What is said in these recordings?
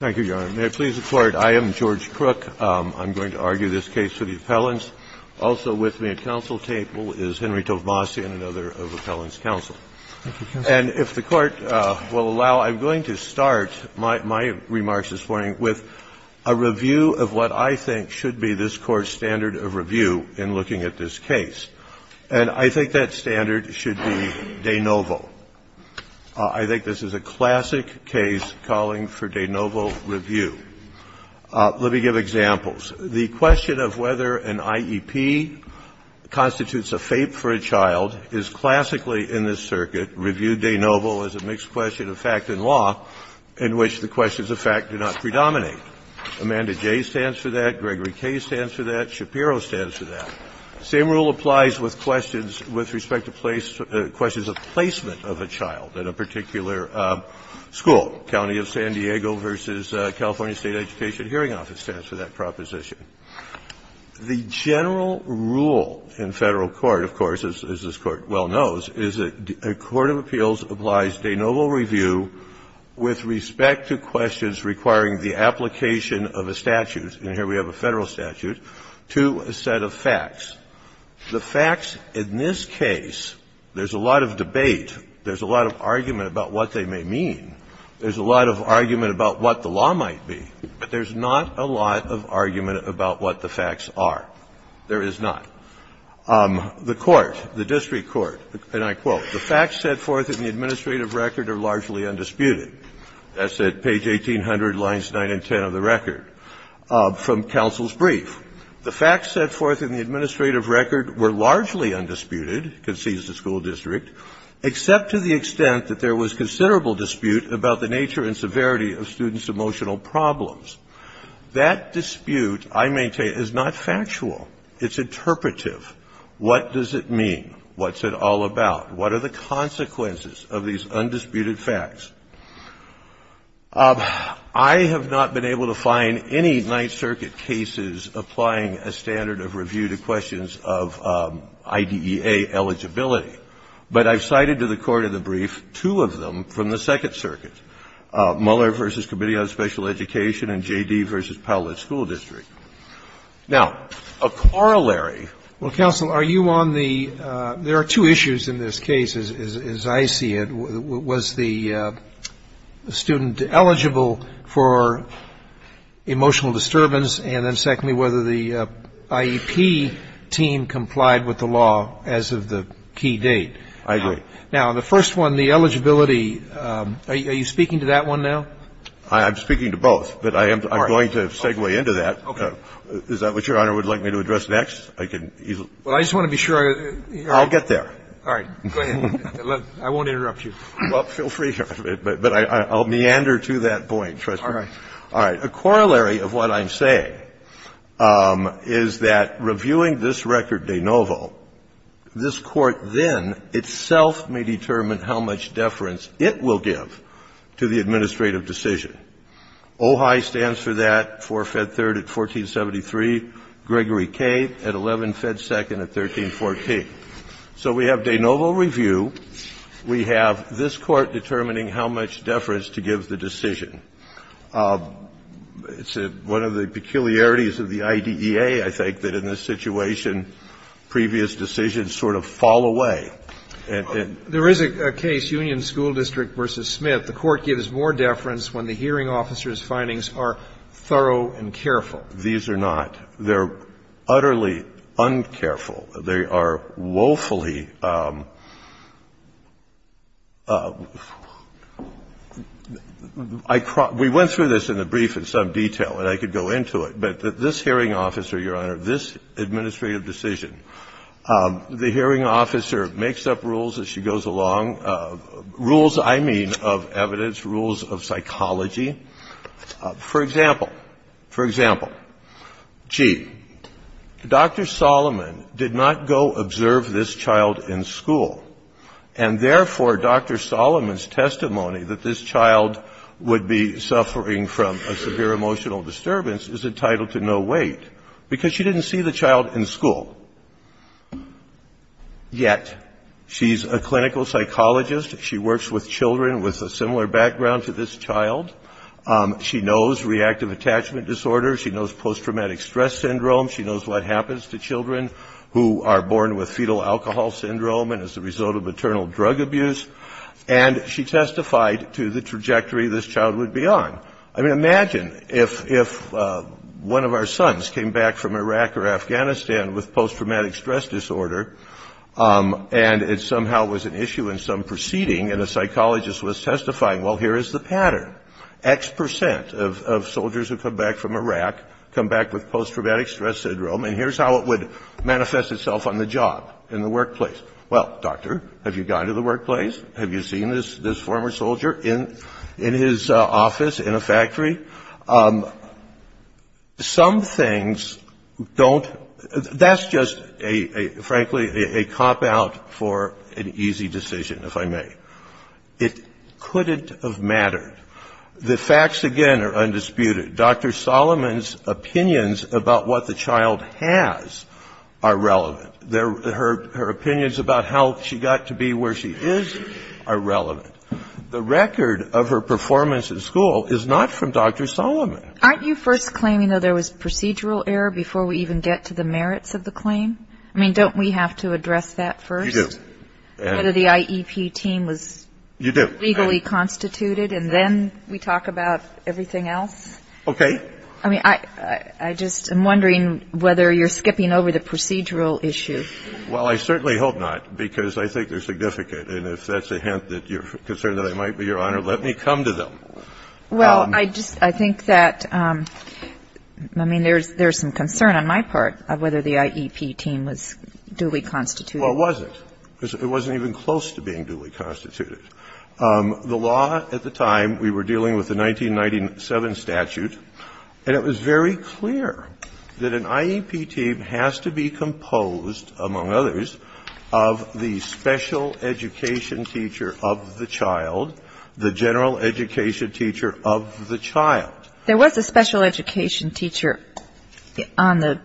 Thank you, Your Honor. May it please the Court, I am George Crook. I'm going to argue this case for the appellants. Also with me at counsel's table is Henry Tovmasian, another of appellants' counsel. And if the Court will allow, I'm going to start my remarks this morning with a review of what I think should be this Court's standard of review in looking at this case. And I think that standard should be de novo. I think this is a classic case calling for de novo review. Let me give examples. The question of whether an IEP constitutes a FAPE for a child is classically in this circuit. Review de novo is a mixed question of fact and law in which the questions of fact do not predominate. Amanda J. stands for that. Gregory K. stands for that. Shapiro stands for that. Same rule applies with questions with respect to place of placement of a child at a particular school. County of San Diego v. California State Education Hearing Office stands for that proposition. The general rule in Federal court, of course, as this Court well knows, is that a court of appeals applies de novo review with respect to questions requiring the application of a statute, and here we have a Federal statute, to a set of facts. The facts in this case, there's a lot of debate, there's a lot of argument about what they may mean, there's a lot of argument about what the law might be, but there's not a lot of argument about what the facts are. There is not. The Court, the district court, and I quote, The facts set forth in the administrative record are largely undisputed. That's at page 1800, lines 9 and 10 of the record from counsel's brief. The facts set forth in the administrative record were largely undisputed, concedes the school district, except to the extent that there was considerable dispute about the nature and severity of students' emotional problems. That dispute, I maintain, is not factual. It's interpretive. What does it mean? What's it all about? What are the consequences of these undisputed facts? I have not been able to find any Ninth Circuit cases applying a standard of review to questions of IDEA eligibility, but I've cited to the court in the brief two of them from the Second Circuit, Mueller v. Committee on Special Education and J.D. v. Powlett School District. Now, a corollary of that is that there are two issues in this case, and I'm not going to go into that. The first one is, as I see it, was the student eligible for emotional disturbance, and then, secondly, whether the IEP team complied with the law as of the key date? I agree. Now, the first one, the eligibility, are you speaking to that one now? I'm speaking to both, but I am going to segue into that. Okay. Is that what Your Honor would like me to address next? I can easily ---- Well, I just want to be sure. I'll get there. All right. Go ahead. I won't interrupt you. Well, feel free to, but I'll meander to that point, Trustee Kennedy. All right. A corollary of what I'm saying is that reviewing this record de novo, this Court then itself may determine how much deference it will give to the administrative decision. OHI stands for that, 4-Fed 3rd at 1473, Gregory K. at 11-Fed 2nd at 1314. So we have de novo review. We have this Court determining how much deference to give the decision. It's one of the peculiarities of the IDEA, I think, that in this situation previous decisions sort of fall away. There is a case, Union School District v. Smith. The Court gives more deference when the hearing officer's findings are thorough and careful. These are not. They're utterly uncareful. They are woefully ‑‑ we went through this in the brief in some detail, and I could go into it, but this hearing officer, Your Honor, this administrative decision, the hearing officer makes up rules as she goes along, rules, I mean, of evidence, rules of psychology. For example, for example, gee, Dr. Solomon did not go observe this child in school, and therefore Dr. Solomon's testimony that this child would be suffering from a severe emotional disturbance is entitled to no weight because she didn't see the child in school. Yet, she's a clinical psychologist, she works with children with a similar background to this child, she knows reactive attachment disorder, she knows posttraumatic stress syndrome, she knows what happens to children who are born with fetal alcohol syndrome and as a result of maternal drug abuse, and she testified to the trajectory this child would be on. I mean, imagine if one of our sons came back from Iraq or Afghanistan with posttraumatic stress disorder, and it somehow was an issue in some proceeding, and a psychologist was testifying, well, here is the pattern, X percent of soldiers who come back from Iraq come back with posttraumatic stress syndrome, and here's how it would manifest itself on the job, in the workplace. Well, doctor, have you gone to the workplace? Have you seen this former soldier in his office in a factory? Some things don't, that's just a, frankly, a cop out for an easy decision, if I may. It couldn't have mattered. The facts, again, are undisputed. Dr. Solomon's opinions about what the child has are relevant. Her opinions about how she got to be where she is are relevant. The record of her performance in school is not from Dr. Solomon. Aren't you first claiming that there was procedural error before we even get to the merits of the claim? I mean, don't we have to address that first? We do. Whether the IEP team was legally constituted, and then we talk about everything else? Okay. I mean, I just am wondering whether you're skipping over the procedural issue. Well, I certainly hope not, because I think they're significant, and if that's a hint that you're concerned that I might be, Your Honor, let me come to them. Well, I just, I think that, I mean, there's some concern on my part of whether the IEP team was duly constituted. Well, it wasn't. It wasn't even close to being duly constituted. The law at the time, we were dealing with the 1997 statute, and it was very clear that an IEP team has to be composed, among others, of the special education teacher of the child, the general education teacher of the child. There was a special education teacher on the,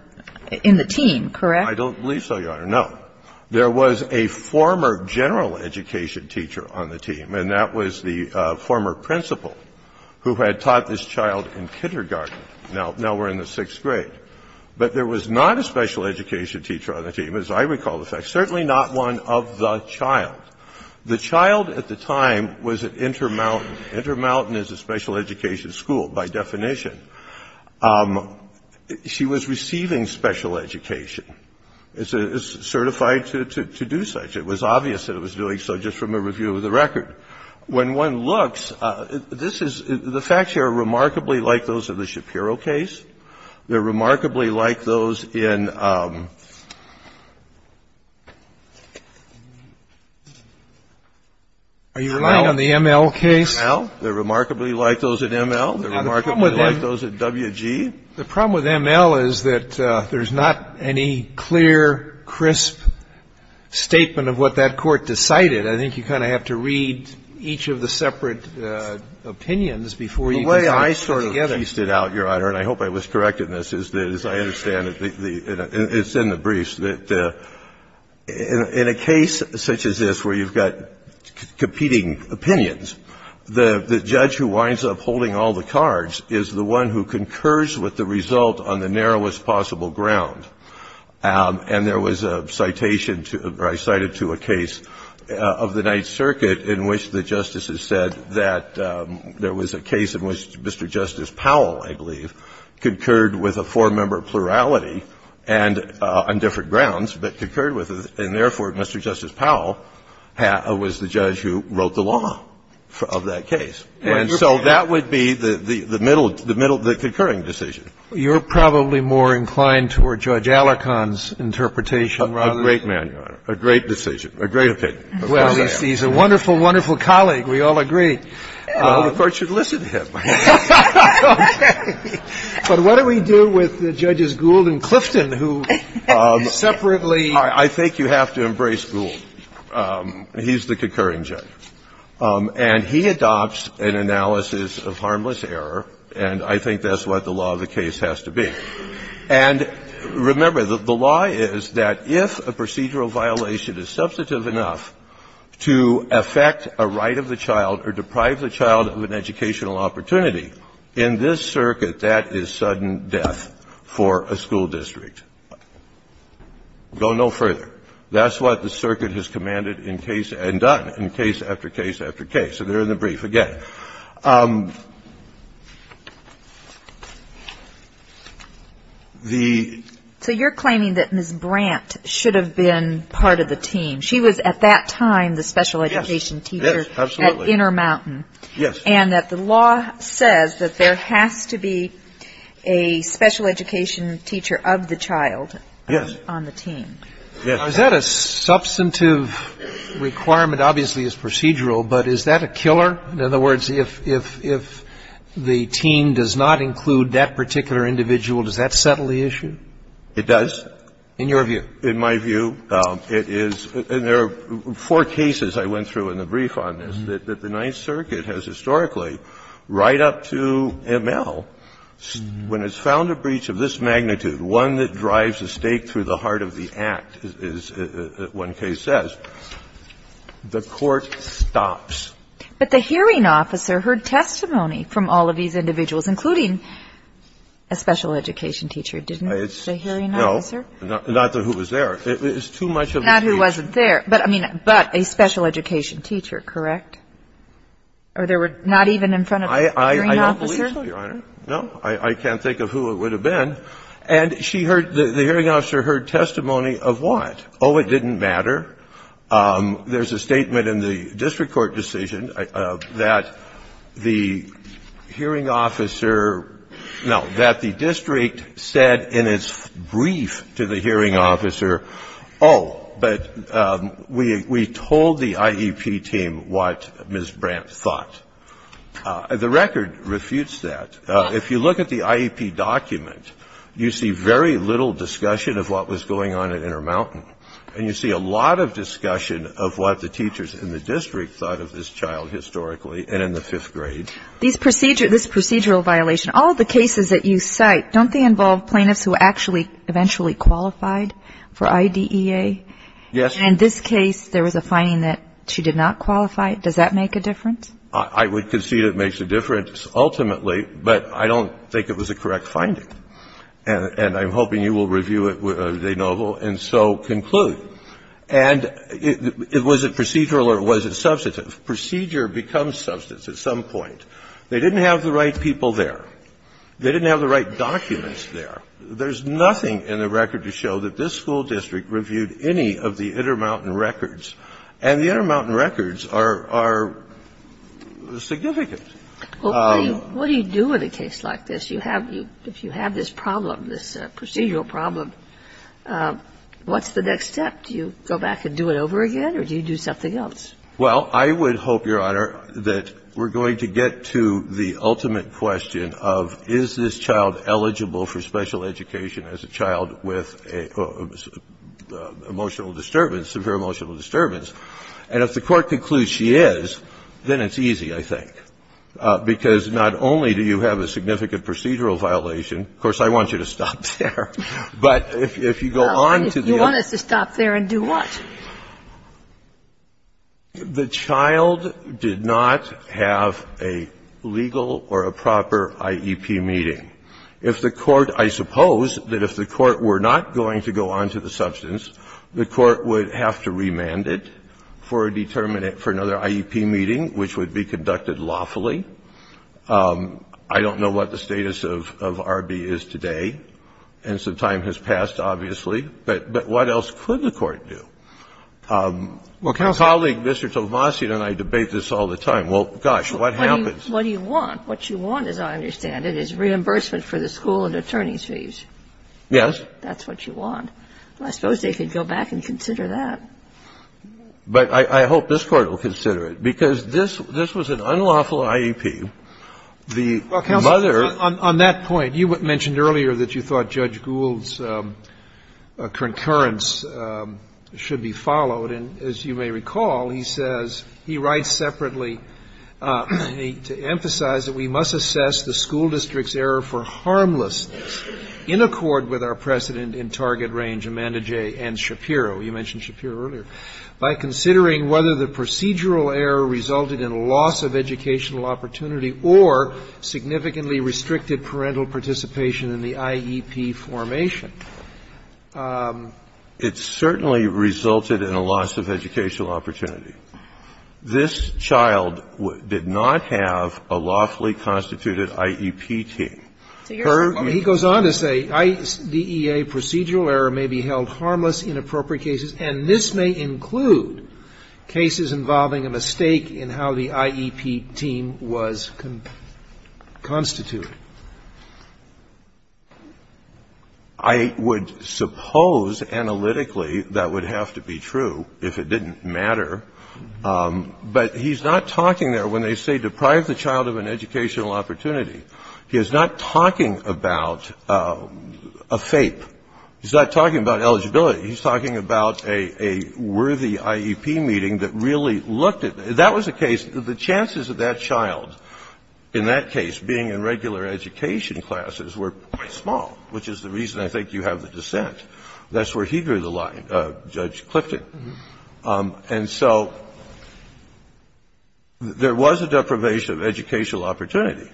in the team, correct? I don't believe so, Your Honor. No. There was a former general education teacher on the team, and that was the former principal who had taught this child in kindergarten. Now we're in the sixth grade. But there was not a special education teacher on the team, as I recall the fact. Certainly not one of the child. The child at the time was at Intermountain. Intermountain is a special education school, by definition. She was receiving special education. It's certified to do such. It was obvious that it was doing so just from a review of the record. When one looks, this is the facts here are remarkably like those of the Shapiro case. They're remarkably like those in ML. They're remarkably like those in ML. They're remarkably like those in WG. The problem with ML is that there's not any clear, crisp statement of what that court decided. I think you kind of have to read each of the separate opinions before you can put it together. The way I sort of pieced it out, Your Honor, and I hope I was correct in this, is that as I understand it, it's in the briefs, that in a case such as this where you've got competing opinions, the judge who winds up holding all the cards is the one who concurs with the result on the narrowest possible ground. And there was a citation to, or I cited to a case of the Ninth Circuit in which the justices said that there was a case in which Mr. Justice Powell, I believe, concurred with a four-member plurality and on different grounds, but concurred with it, and therefore, Mr. Justice Powell was the judge who wrote the law of that case. And so that would be the middle, the middle, the concurring decision. You're probably more inclined toward Judge Alarcon's interpretation rather than A great man, Your Honor, a great decision, a great opinion. Well, he's a wonderful, wonderful colleague. We all agree. Well, the Court should listen to him. But what do we do with Judges Gould and Clifton, who separately I think you have to embrace Gould. He's the concurring judge. And he adopts an analysis of harmless error, and I think that's what the law of the case has to be. And remember, the law is that if a procedural violation is substantive enough to affect a right of the child or deprive the child of an educational opportunity, in this circuit, that is sudden death for a school district. Go no further. That's what the circuit has commanded in case and done, in case after case after case. So they're in the brief again. The ---- So you're claiming that Ms. Brandt should have been part of the team. She was at that time the special education teacher at Inner Mountain. Yes. And that the law says that there has to be a special education teacher of the child on the team. Is that a substantive requirement? Obviously, it's procedural, but is that a killer? In other words, if the team does not include that particular individual, does that settle the issue? It does. In your view? In my view, it is. And there are four cases I went through in the brief on this, that the Ninth Circuit has historically, right up to M.L., when it's found a breach of this magnitude, one that drives a stake through the heart of the act, as one case says, the court stops. But the hearing officer heard testimony from all of these individuals, including a special education teacher, didn't the hearing officer? No. Not who was there. It's too much of a breach. Not who wasn't there, but, I mean, but a special education teacher, correct? Or there were not even in front of the hearing officer? I don't believe so, Your Honor. No. I can't think of who it would have been. And she heard, the hearing officer heard testimony of what? Oh, it didn't matter. There's a statement in the district court decision that the hearing officer no, that the district said in its brief to the hearing officer, oh, but we told the IEP team what Ms. Brandt thought. The record refutes that. If you look at the IEP document, you see very little discussion of what was going on at Intermountain. And you see a lot of discussion of what the teachers in the district thought of this child historically and in the fifth grade. This procedural violation, all of the cases that you cite, don't they involve plaintiffs who actually eventually qualified for IDEA? Yes. And in this case, there was a finding that she did not qualify. Does that make a difference? I would concede it makes a difference ultimately, but I don't think it was a correct finding, and I'm hoping you will review it, De Novo, and so conclude. And was it procedural or was it substantive? Procedure becomes substantive at some point. They didn't have the right people there. They didn't have the right documents there. There's nothing in the record to show that this school district reviewed any of the Intermountain records, and the Intermountain records are significant. Well, what do you do in a case like this? If you have this problem, this procedural problem, what's the next step? Do you go back and do it over again or do you do something else? Well, I would hope, Your Honor, that we're going to get to the ultimate question of is this child eligible for special education as a child with emotional disturbance and if the court concludes she is, then it's easy, I think, because not only do you have a significant procedural violation, of course, I want you to stop there, but if you go on to the other. If you want us to stop there and do what? The child did not have a legal or a proper IEP meeting. If the court – I suppose that if the court were not going to go on to the substance, the court would have to remand it for a determinant for another IEP meeting, which would be conducted lawfully. I don't know what the status of RB is today, and some time has passed, obviously, but what else could the court do? Well, colleague, Mr. Tovasian and I debate this all the time. Well, gosh, what happens? What do you want? What you want, as I understand it, is reimbursement for the school and attorney's fees. Yes. That's what you want. Well, I suppose they could go back and consider that. But I hope this Court will consider it, because this was an unlawful IEP. The mother – Well, counsel, on that point, you mentioned earlier that you thought Judge Gould's concurrence should be followed, and as you may recall, he says, he writes separately to emphasize that we must assess the school district's error for harmlessness in accord with our precedent in target range, Amanda J. and Shapiro. You mentioned Shapiro earlier. By considering whether the procedural error resulted in a loss of educational opportunity or significantly restricted parental participation in the IEP formation, it certainly resulted in a loss of educational opportunity. This child did not have a lawfully constituted IEP team. He goes on to say, »'IDEA procedural error may be held harmless in appropriate cases, and this may include cases involving a mistake in how the IEP team was constituted.' I would suppose analytically that would have to be true if it didn't matter. But he's not talking there when they say deprive the child of an educational opportunity. He is not talking about a FAPE. He's not talking about eligibility. He's talking about a worthy IEP meeting that really looked at the – that was the case. The chances of that child in that case being in regular education classes were quite small, which is the reason I think you have the dissent. That's where he drew the line, Judge Clifton. And so there was a deprivation of educational opportunity.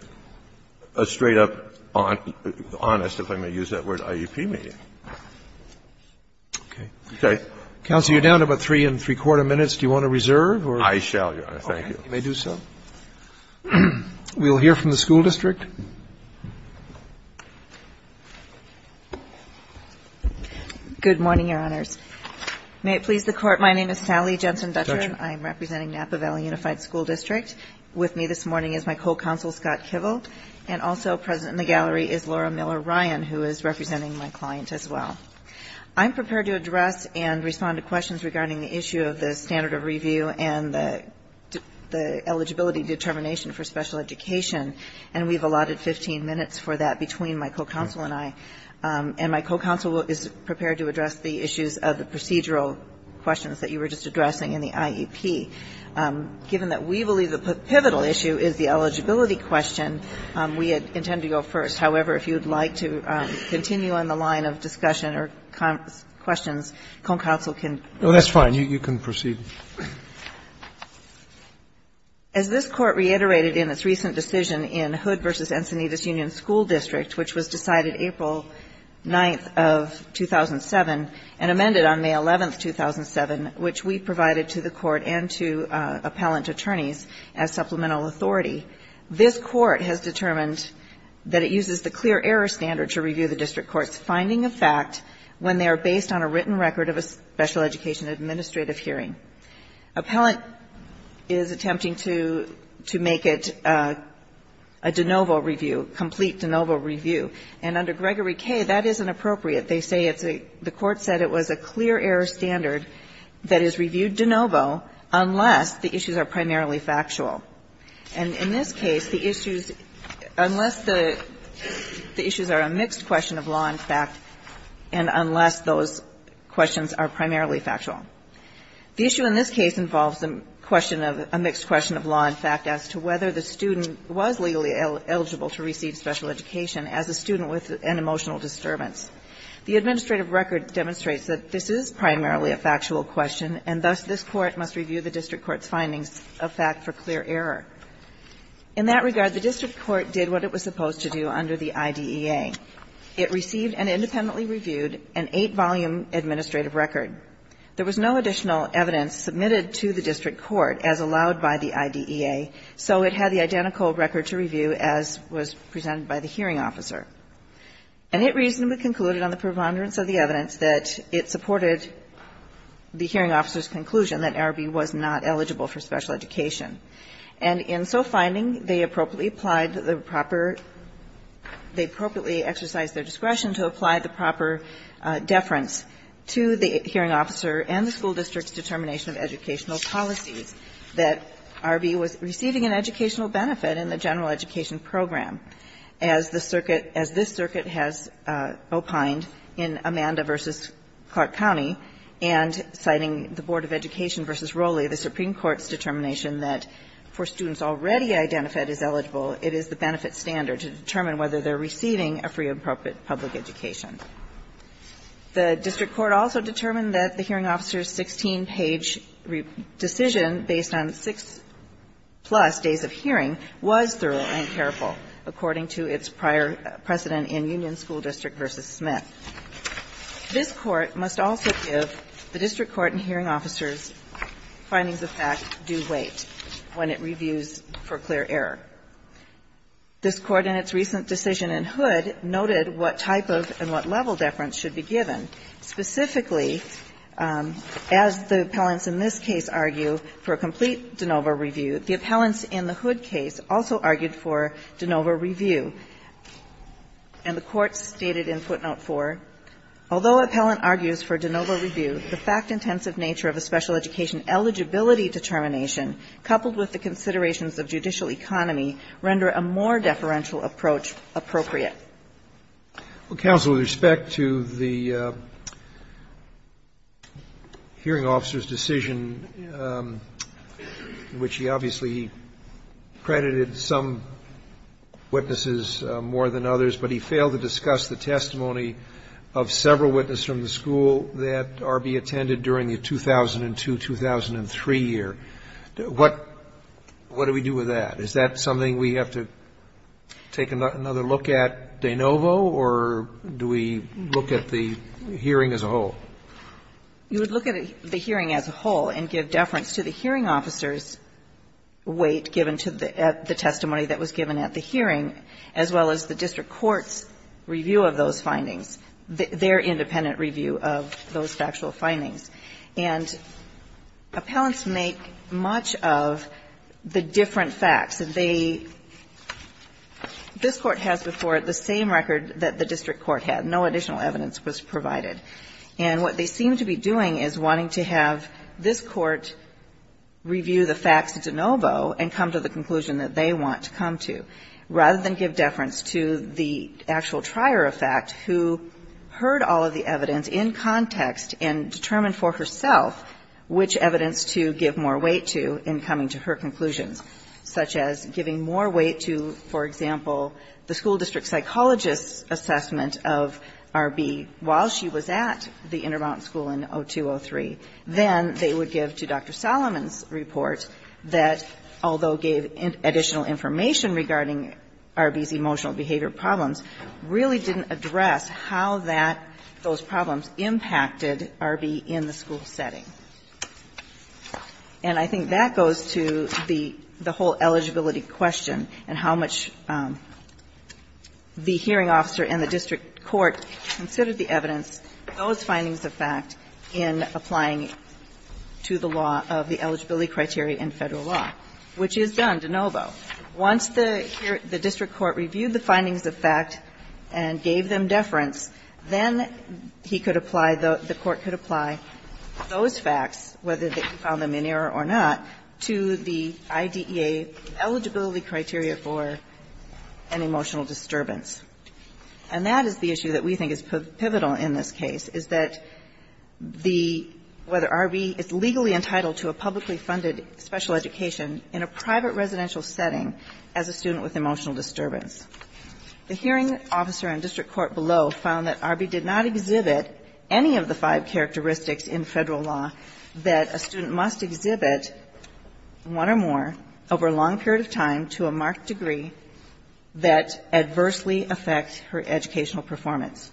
A straight-up honest, if I may use that word, IEP meeting. Roberts. Okay. Counsel, you're down to about three and three-quarter minutes. Do you want to reserve or? I shall, Your Honor. Thank you. You may do so. We'll hear from the school district. Good morning, Your Honors. May it please the Court, my name is Sally Jensen-Butcher. I'm representing Napa Valley Unified School District. With me this morning is my co-counsel, Scott Kivel. And also present in the gallery is Laura Miller-Ryan, who is representing my client as well. I'm prepared to address and respond to questions regarding the issue of the standard of review and the eligibility determination for special education, and we've allotted 15 minutes for that between my co-counsel and I. And my co-counsel is prepared to address the issues of the procedural questions that you were just addressing in the IEP. Given that we believe the pivotal issue is the eligibility question, we intend to go first. However, if you'd like to continue on the line of discussion or questions, co-counsel can proceed. No, that's fine. You can proceed. As this Court reiterated in its recent decision in Hood v. Encinitas Union School District, which was decided April 9th of 2007 and amended on May 11th, 2007, which we provided to the Court and to appellant attorneys as supplemental authority, this Court has determined that it uses the clear error standard to review the district court's finding of fact when they are based on a written record of a special education administrative hearing. Appellant is attempting to make it a de novo review, complete de novo review. And under Gregory K., that isn't appropriate. They say it's a the Court said it was a clear error standard that is reviewed de novo unless the issues are primarily factual. And in this case, the issues, unless the issues are a mixed question of law and fact and unless those questions are primarily factual. The issue in this case involves a question of a mixed question of law and fact as to whether the student was legally eligible to receive special education as a student with an emotional disturbance. The administrative record demonstrates that this is primarily a factual question, and thus this Court must review the district court's findings of fact for clear error. In that regard, the district court did what it was supposed to do under the IDEA. It received and independently reviewed an 8-volume administrative record. There was no additional evidence submitted to the district court as allowed by the IDEA, so it had the identical record to review as was presented by the hearing officer. And it reasonably concluded on the preponderance of the evidence that it supported the hearing officer's conclusion that Arby was not eligible for special education. And in so finding, they appropriately applied the proper, they appropriately exercised their discretion to apply the proper deference to the hearing officer and the school district's determination of educational policies that Arby was receiving an educational benefit in the general education program as the circuit, as this circuit has opined in Amanda v. Clark County, and citing the Board of Education v. Rowley, the Supreme Court's determination that for students already identified as eligible, it is the benefit standard to determine whether they're receiving a free and appropriate public education. The district court also determined that the hearing officer's 16-page decision based on six-plus days of hearing was thorough and careful, according to its prior precedent in Union School District v. Smith. This Court must also give the district court and hearing officer's findings of fact due weight when it reviews for clear error. This Court, in its recent decision in Hood, noted what type of and what level deference should be given, specifically, as the appellants in this case argue, for a hearing officer's decision, for a complete de novo review, the appellants in the Hood case also argued for de novo review. And the Court stated in footnote 4, although appellant argues for de novo review, the fact-intensive nature of a special education eligibility determination, coupled with the considerations of judicial economy, render a more deferential approach appropriate. Well, counsel, with respect to the hearing officer's decision, which he obviously credited some witnesses more than others, but he failed to discuss the testimony of several witnesses from the school that are to be attended during the 2002-2003 year, what do we do with that? Is that something we have to take another look at de novo, or do we look at the hearing as a whole? You would look at the hearing as a whole and give deference to the hearing officer's weight given to the testimony that was given at the hearing, as well as the district court's review of those findings, their independent review of those factual findings. And appellants make much of the different facts. They – this Court has before it the same record that the district court had. No additional evidence was provided. And what they seem to be doing is wanting to have this Court review the facts de novo and come to the conclusion that they want to come to, rather than give deference to the actual trier of fact who heard all of the evidence in context and determined for herself which evidence to give more weight to in coming to her conclusions, such as giving more weight to, for example, the school district psychologist's assessment of R.B. while she was at the Intermountain School in 2002-2003 than they would give to the school district psychologist's assessment of R.B. And I think that goes to the whole eligibility question and how much the hearing officer and the district court considered the evidence, those findings of fact, in applying it to the law of the eligibility criteria in Federal law, which is done de novo. If the hearing officer considered the findings of fact and gave them deference, then he could apply – the Court could apply those facts, whether they found them in error or not, to the IDEA eligibility criteria for an emotional disturbance. And that is the issue that we think is pivotal in this case, is that the – whether R.B. is legally entitled to a publicly funded special education in a private residential setting as a student with emotional disturbance. The hearing officer and district court below found that R.B. did not exhibit any of the five characteristics in Federal law that a student must exhibit one or more over a long period of time to a marked degree that adversely affects her educational performance.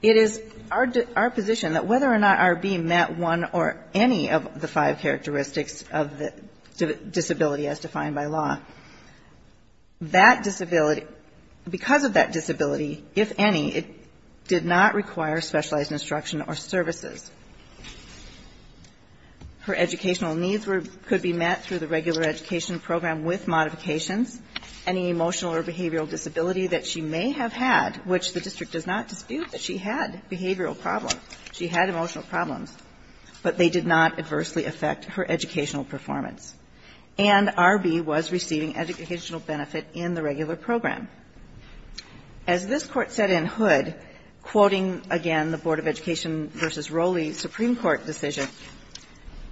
It is our position that whether or not R.B. met one or any of the five characteristics of the disability as defined by law, that disability – because of that disability, if any, it did not require specialized instruction or services. Her educational needs were – could be met through the regular education program with modifications. Any emotional or behavioral disability that she may have had, which the district does not dispute that she had behavioral problems, she had emotional problems, but they did not adversely affect her educational performance. And R.B. was receiving educational benefit in the regular program. As this Court said in Hood, quoting, again, the Board of Education v. Rowley Supreme Court decision,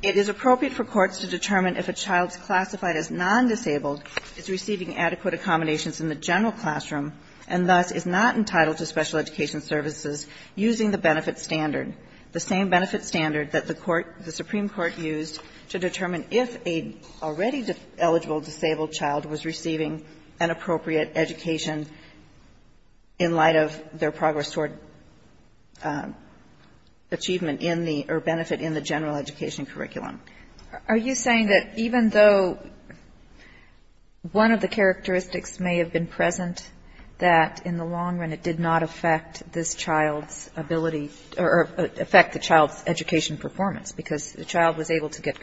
it is appropriate for courts to determine if a child's classified as non-disabled is receiving adequate accommodations in the general classroom and thus is not entitled to special education services using the benefit standard, the same benefit standard that the Supreme Court used to determine if a already eligible disabled child was receiving an appropriate education in light of their progress toward achievement in the – or benefit in the general education curriculum. Are you saying that even though one of the characteristics may have been present, that in the long run it did not affect this child's ability or affect the child's education performance, because the child was able to get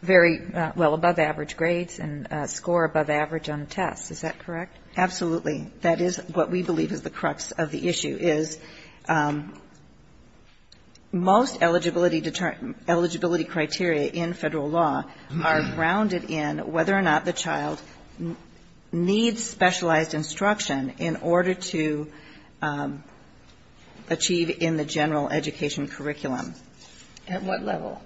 very well above average grades and score above average on a test. Is that correct? Absolutely. That is what we believe is the crux of the issue, is most eligibility criteria in Federal law are grounded in whether or not the child needs specialized instruction in order to achieve in the general education curriculum. At what level?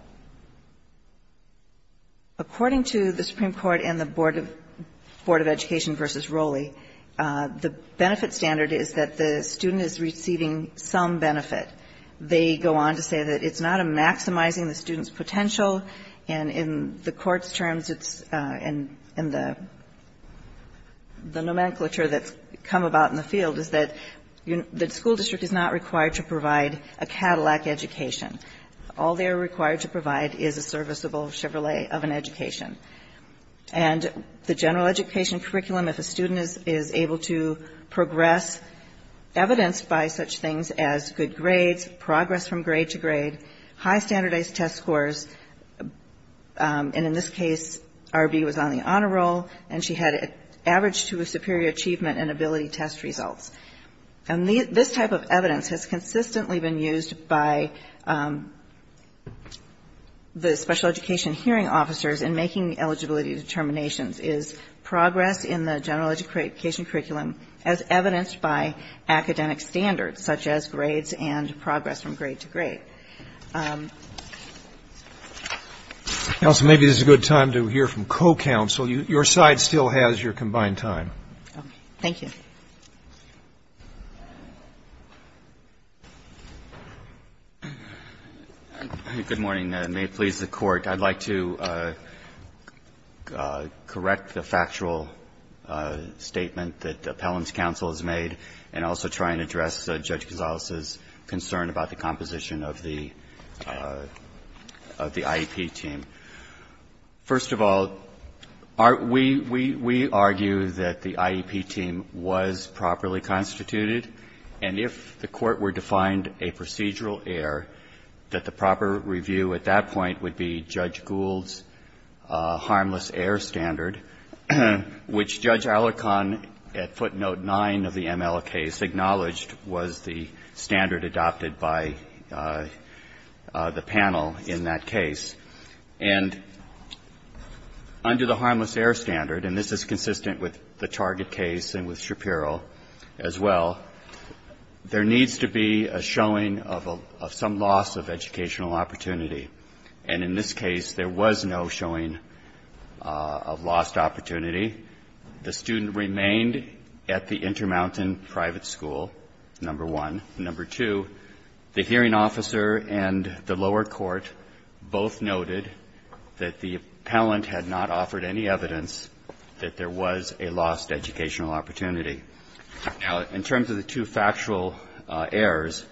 According to the Supreme Court and the Board of Education v. Rowley, the benefit standard is that the student is receiving some benefit. They go on to say that it's not a maximizing the student's potential, and in the Court's terms it's in the – the nomenclature that's come about in the field is that the school district is not required to provide a Cadillac education. All they're required to provide is a serviceable Chevrolet of an education. And the general education curriculum, if a student is able to progress, evidenced by such things as good grades, progress from grade to grade, high standardized test scores, and in this case R.B. was on the average to a superior achievement in ability test results. And this type of evidence has consistently been used by the special education hearing officers in making eligibility determinations, is progress in the general education curriculum as evidenced by academic standards, such as grades and progress from grade to grade. Roberts, maybe this is a good time to hear from co-counsel. Your side still has your combined time. Thank you. Good morning. May it please the Court. I'd like to correct the factual statement that Appellant's counsel has made and also try and address Judge Gonzales' concern about the composition of the IEP team. First of all, we argue that the IEP team was properly constituted, and if the Court were to find a procedural error, that the proper review at that point would be Judge Gould's harmless error standard, which Judge Alicorn at footnote 9 of the MLK's acknowledged was the standard adopted by the panel in that case. And under the harmless error standard, and this is consistent with the Target case and with Shapiro as well, there needs to be a showing of some loss of educational opportunity. And in this case, there was no showing of lost opportunity. The student remained at the Intermountain Private School, number one. Number two, the hearing officer and the lower court both noted that the appellant had not offered any evidence that there was a lost educational opportunity. Now, in terms of the two factual errors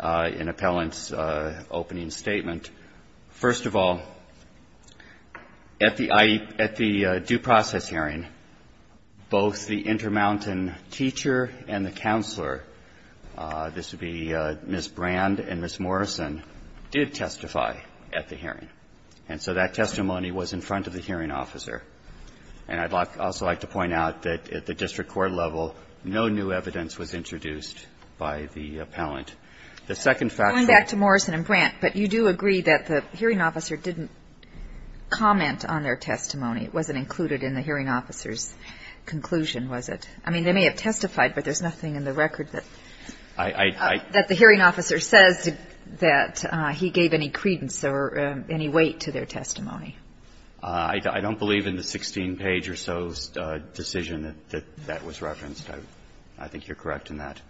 in Appellant's opening statement, first of all, at the IEP, at the due process hearing, both the Intermountain teacher and the counselor, this would be Ms. Brand and Ms. Morrison, did testify at the hearing. And so that testimony was in front of the hearing officer. And I'd like to also like to point out that at the district court level, no new evidence was introduced by the appellant. The second factual error. The hearing officer didn't comment on their testimony. It wasn't included in the hearing officer's conclusion, was it? I mean, they may have testified, but there's nothing in the record that the hearing officer says that he gave any credence or any weight to their testimony. I don't believe in the 16-page or so decision that that was referenced. I think you're correct in that.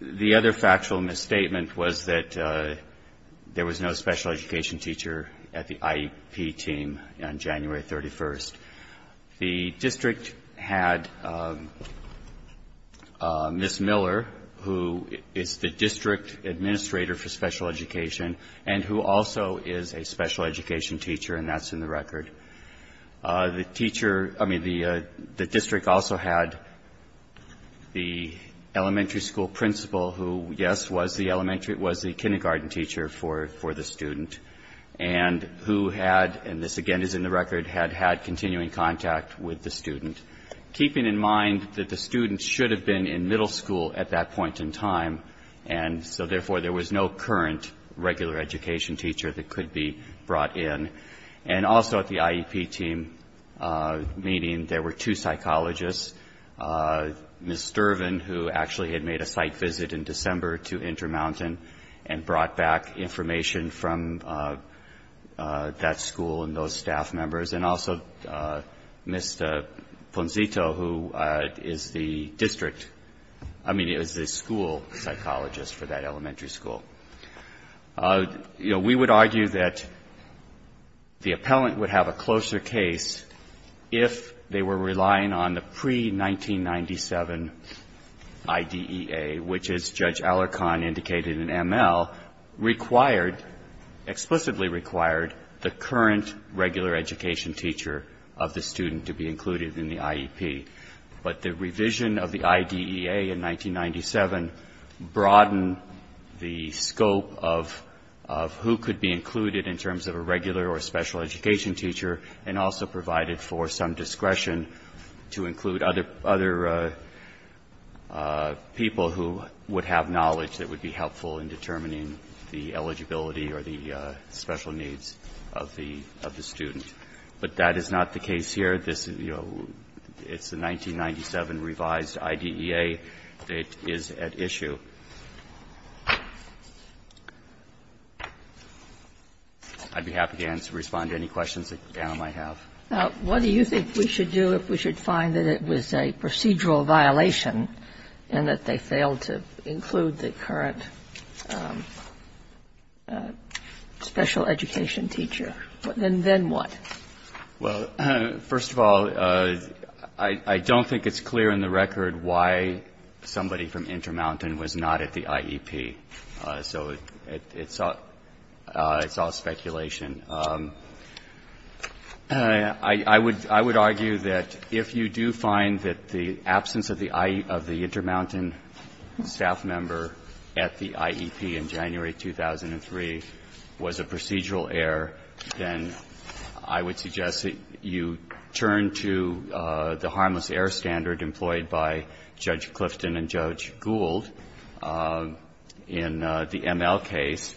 The other factual misstatement was that there was no special education teacher at the IEP team on January 31st. The district had Ms. Miller, who is the district administrator for special education and who also is a special education teacher, and that's in the record. The teacher – I mean, the district also had the elementary school principal who, yes, was the elementary – was the kindergarten teacher for the student and who had – and this, again, is in the record – had had continuing contact with the student, keeping in mind that the student should have been in middle school at that point in time, and so therefore there was no current regular education teacher that could be brought in. And also at the IEP team meeting, there were two psychologists, Ms. Sturvin, who actually had made a site visit in December to Intermountain and brought back information from that school and those staff members, and also Ms. Ponzito, who is the district – I mean, is the school psychologist for that elementary school. You know, we would argue that the appellant would have a closer case if they were relying on the pre-1997 IDEA, which, as Judge Alarcon indicated in ML, required – explicitly required the current regular education teacher of the student to be included in the IEP. But the revision of the IDEA in 1997 broadened the scope of the application and broadened the scope of who could be included in terms of a regular or special education teacher and also provided for some discretion to include other people who would have knowledge that would be helpful in determining the eligibility or the special needs of the student. But that is not the case here. It's the 1997 revised IDEA that is at issue. I'd be happy to respond to any questions that Anna might have. What do you think we should do if we should find that it was a procedural violation and that they failed to include the current special education teacher? And then what? Well, first of all, I don't think it's clear in the record why somebody from Intermountain was not at the IEP. So it's all speculation. I would argue that if you do find that the absence of the Intermountain staff member at the IEP in January 2003 was a procedural error, then I would suggest that you turn to the harmless error standard employed by Judge Clifton and Judge Gould in the ML case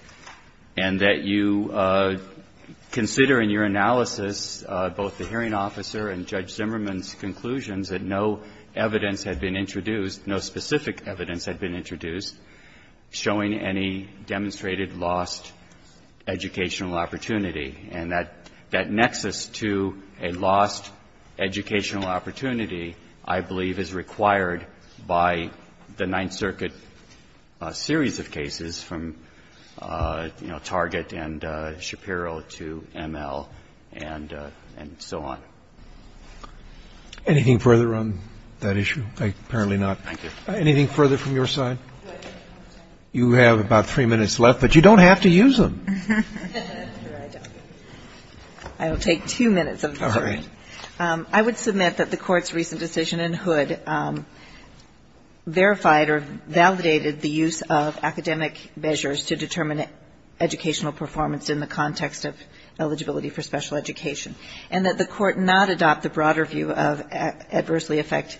and that you consider in your analysis both the hearing officer and Judge Zimmerman's conclusions that no evidence had been introduced, no specific evidence had been introduced showing any demonstrated lost educational opportunity. And that nexus to a lost educational opportunity I believe is required by the Ninth Circuit series of cases from, you know, Target and Shapiro to ML and so on. Anything further on that issue? Apparently not. Thank you. Anything further from your side? You have about three minutes left, but you don't have to use them. I will take two minutes. All right. I would submit that the Court's recent decision in Hood verified or validated the use of academic measures to determine educational performance in the context of eligibility for special education. And that the Court not adopt the broader view of adversely affect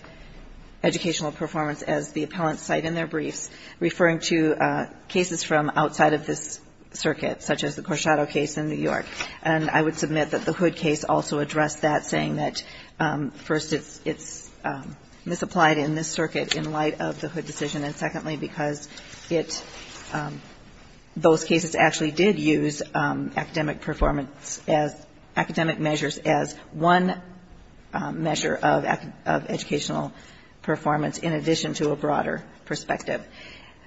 educational performance as the appellants cite in their briefs, referring to cases from outside of this circuit, such as the Corsado case in New York. And I would submit that the Hood case also addressed that, saying that, first, it's misapplied in this circuit in light of the Hood decision. And secondly, because it – those cases actually did use academic performance as – academic measures as one measure of educational performance in addition to a broader perspective.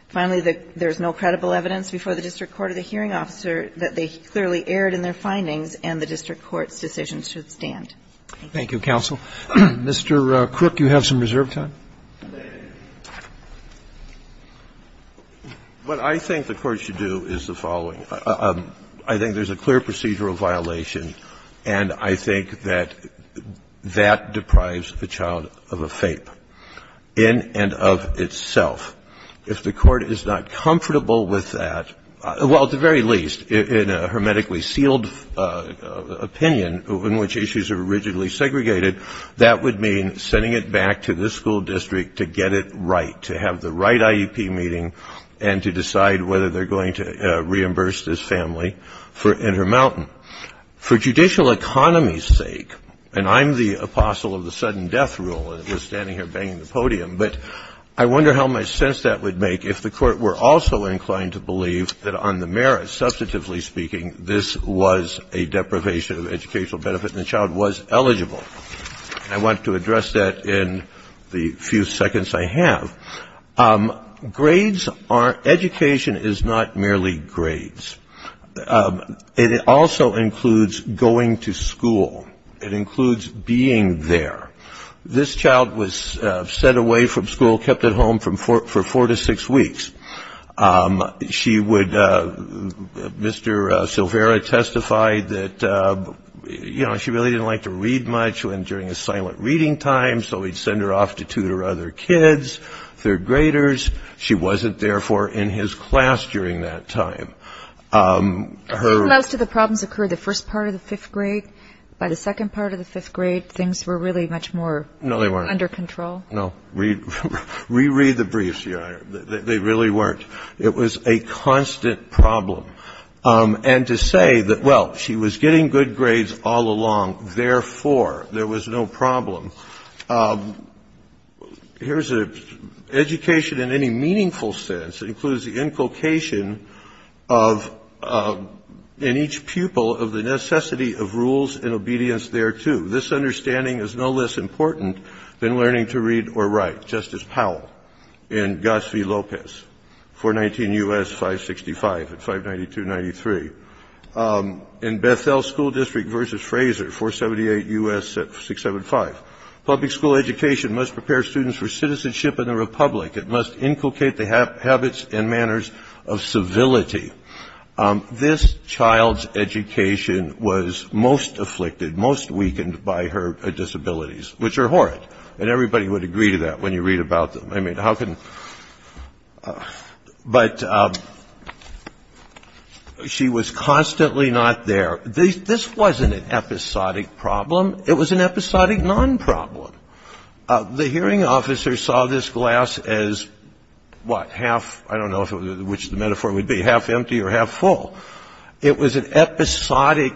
Finally, there is no credible evidence before the district court or the hearing officer that they clearly erred in their findings and the district court's decisions should stand. Thank you. Thank you, counsel. Mr. Crook, you have some reserve time. What I think the Court should do is the following. I think there's a clear procedural violation, and I think that that deprives the child of a FAPE in and of itself. If the Court is not comfortable with that, well, at the very least, in a hermetically sealed opinion in which issues are originally segregated, that would mean sending it back to this school district to get it right, to have the right IEP meeting and to decide whether they're going to reimburse this family for Intermountain. For judicial economy's sake, and I'm the apostle of the sudden death rule that was standing here banging the podium, but I wonder how much sense that would make if the Court were also inclined to believe that on the merits, substantively speaking, this was a deprivation of educational benefit and the child was eligible. And I want to address that in the few seconds I have. Grades are ñ education is not merely grades. It also includes going to school. It includes being there. This child was sent away from school, kept at home for four to six weeks. She would ñ Mr. Silvera testified that, you know, she really didn't like to read much. And during a silent reading time, so he'd send her off to tutor other kids, third graders. She wasn't, therefore, in his class during that time. Her ñ Most of the problems occurred the first part of the fifth grade. By the second part of the fifth grade, things were really much more ñ No, they weren't. ñ under control. No. Reread the briefs, Your Honor. They really weren't. It was a constant problem. And to say that, well, she was getting good grades all along, therefore, there was no problem. Here's a ñ education in any meaningful sense includes the inculcation of, in each pupil, of the necessity of rules and obedience thereto. This understanding is no less important than learning to read or write. Justice Powell in Goss v. Lopez, 419 U.S. 565 and 592-93. In Beth-El School District v. Fraser, 478 U.S. 675. Public school education must prepare students for citizenship in the republic. It must inculcate the habits and manners of civility. This child's education was most afflicted, most weakened by her disabilities, which are horrid. And everybody would agree to that when you read about them. I mean, how can ñ but she was constantly not there. This wasn't an episodic problem. It was an episodic non-problem. The hearing officer saw this glass as, what, half ñ I don't know which the metaphor would be, half empty or half full. It was an episodic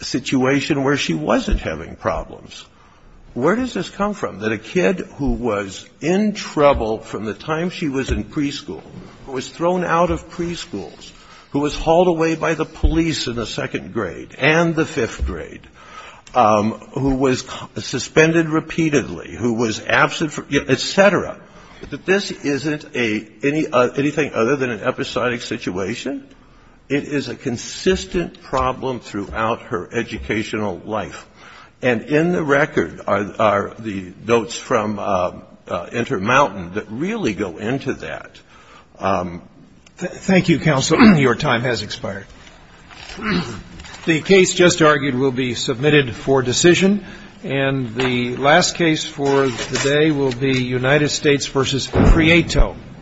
situation where she wasn't having problems. Where does this come from, that a kid who was in trouble from the time she was in preschool, who was thrown out of preschools, who was hauled away by the police in the second grade and the fifth grade, who was suspended repeatedly, who was absent, et cetera, that this isn't anything other than an episodic situation? It is a consistent problem throughout her educational life. And in the record are the notes from Intermountain that really go into that. Thank you, counsel. Your time has expired. The case just argued will be submitted for decision. And the last case for today will be United States v. Prieto.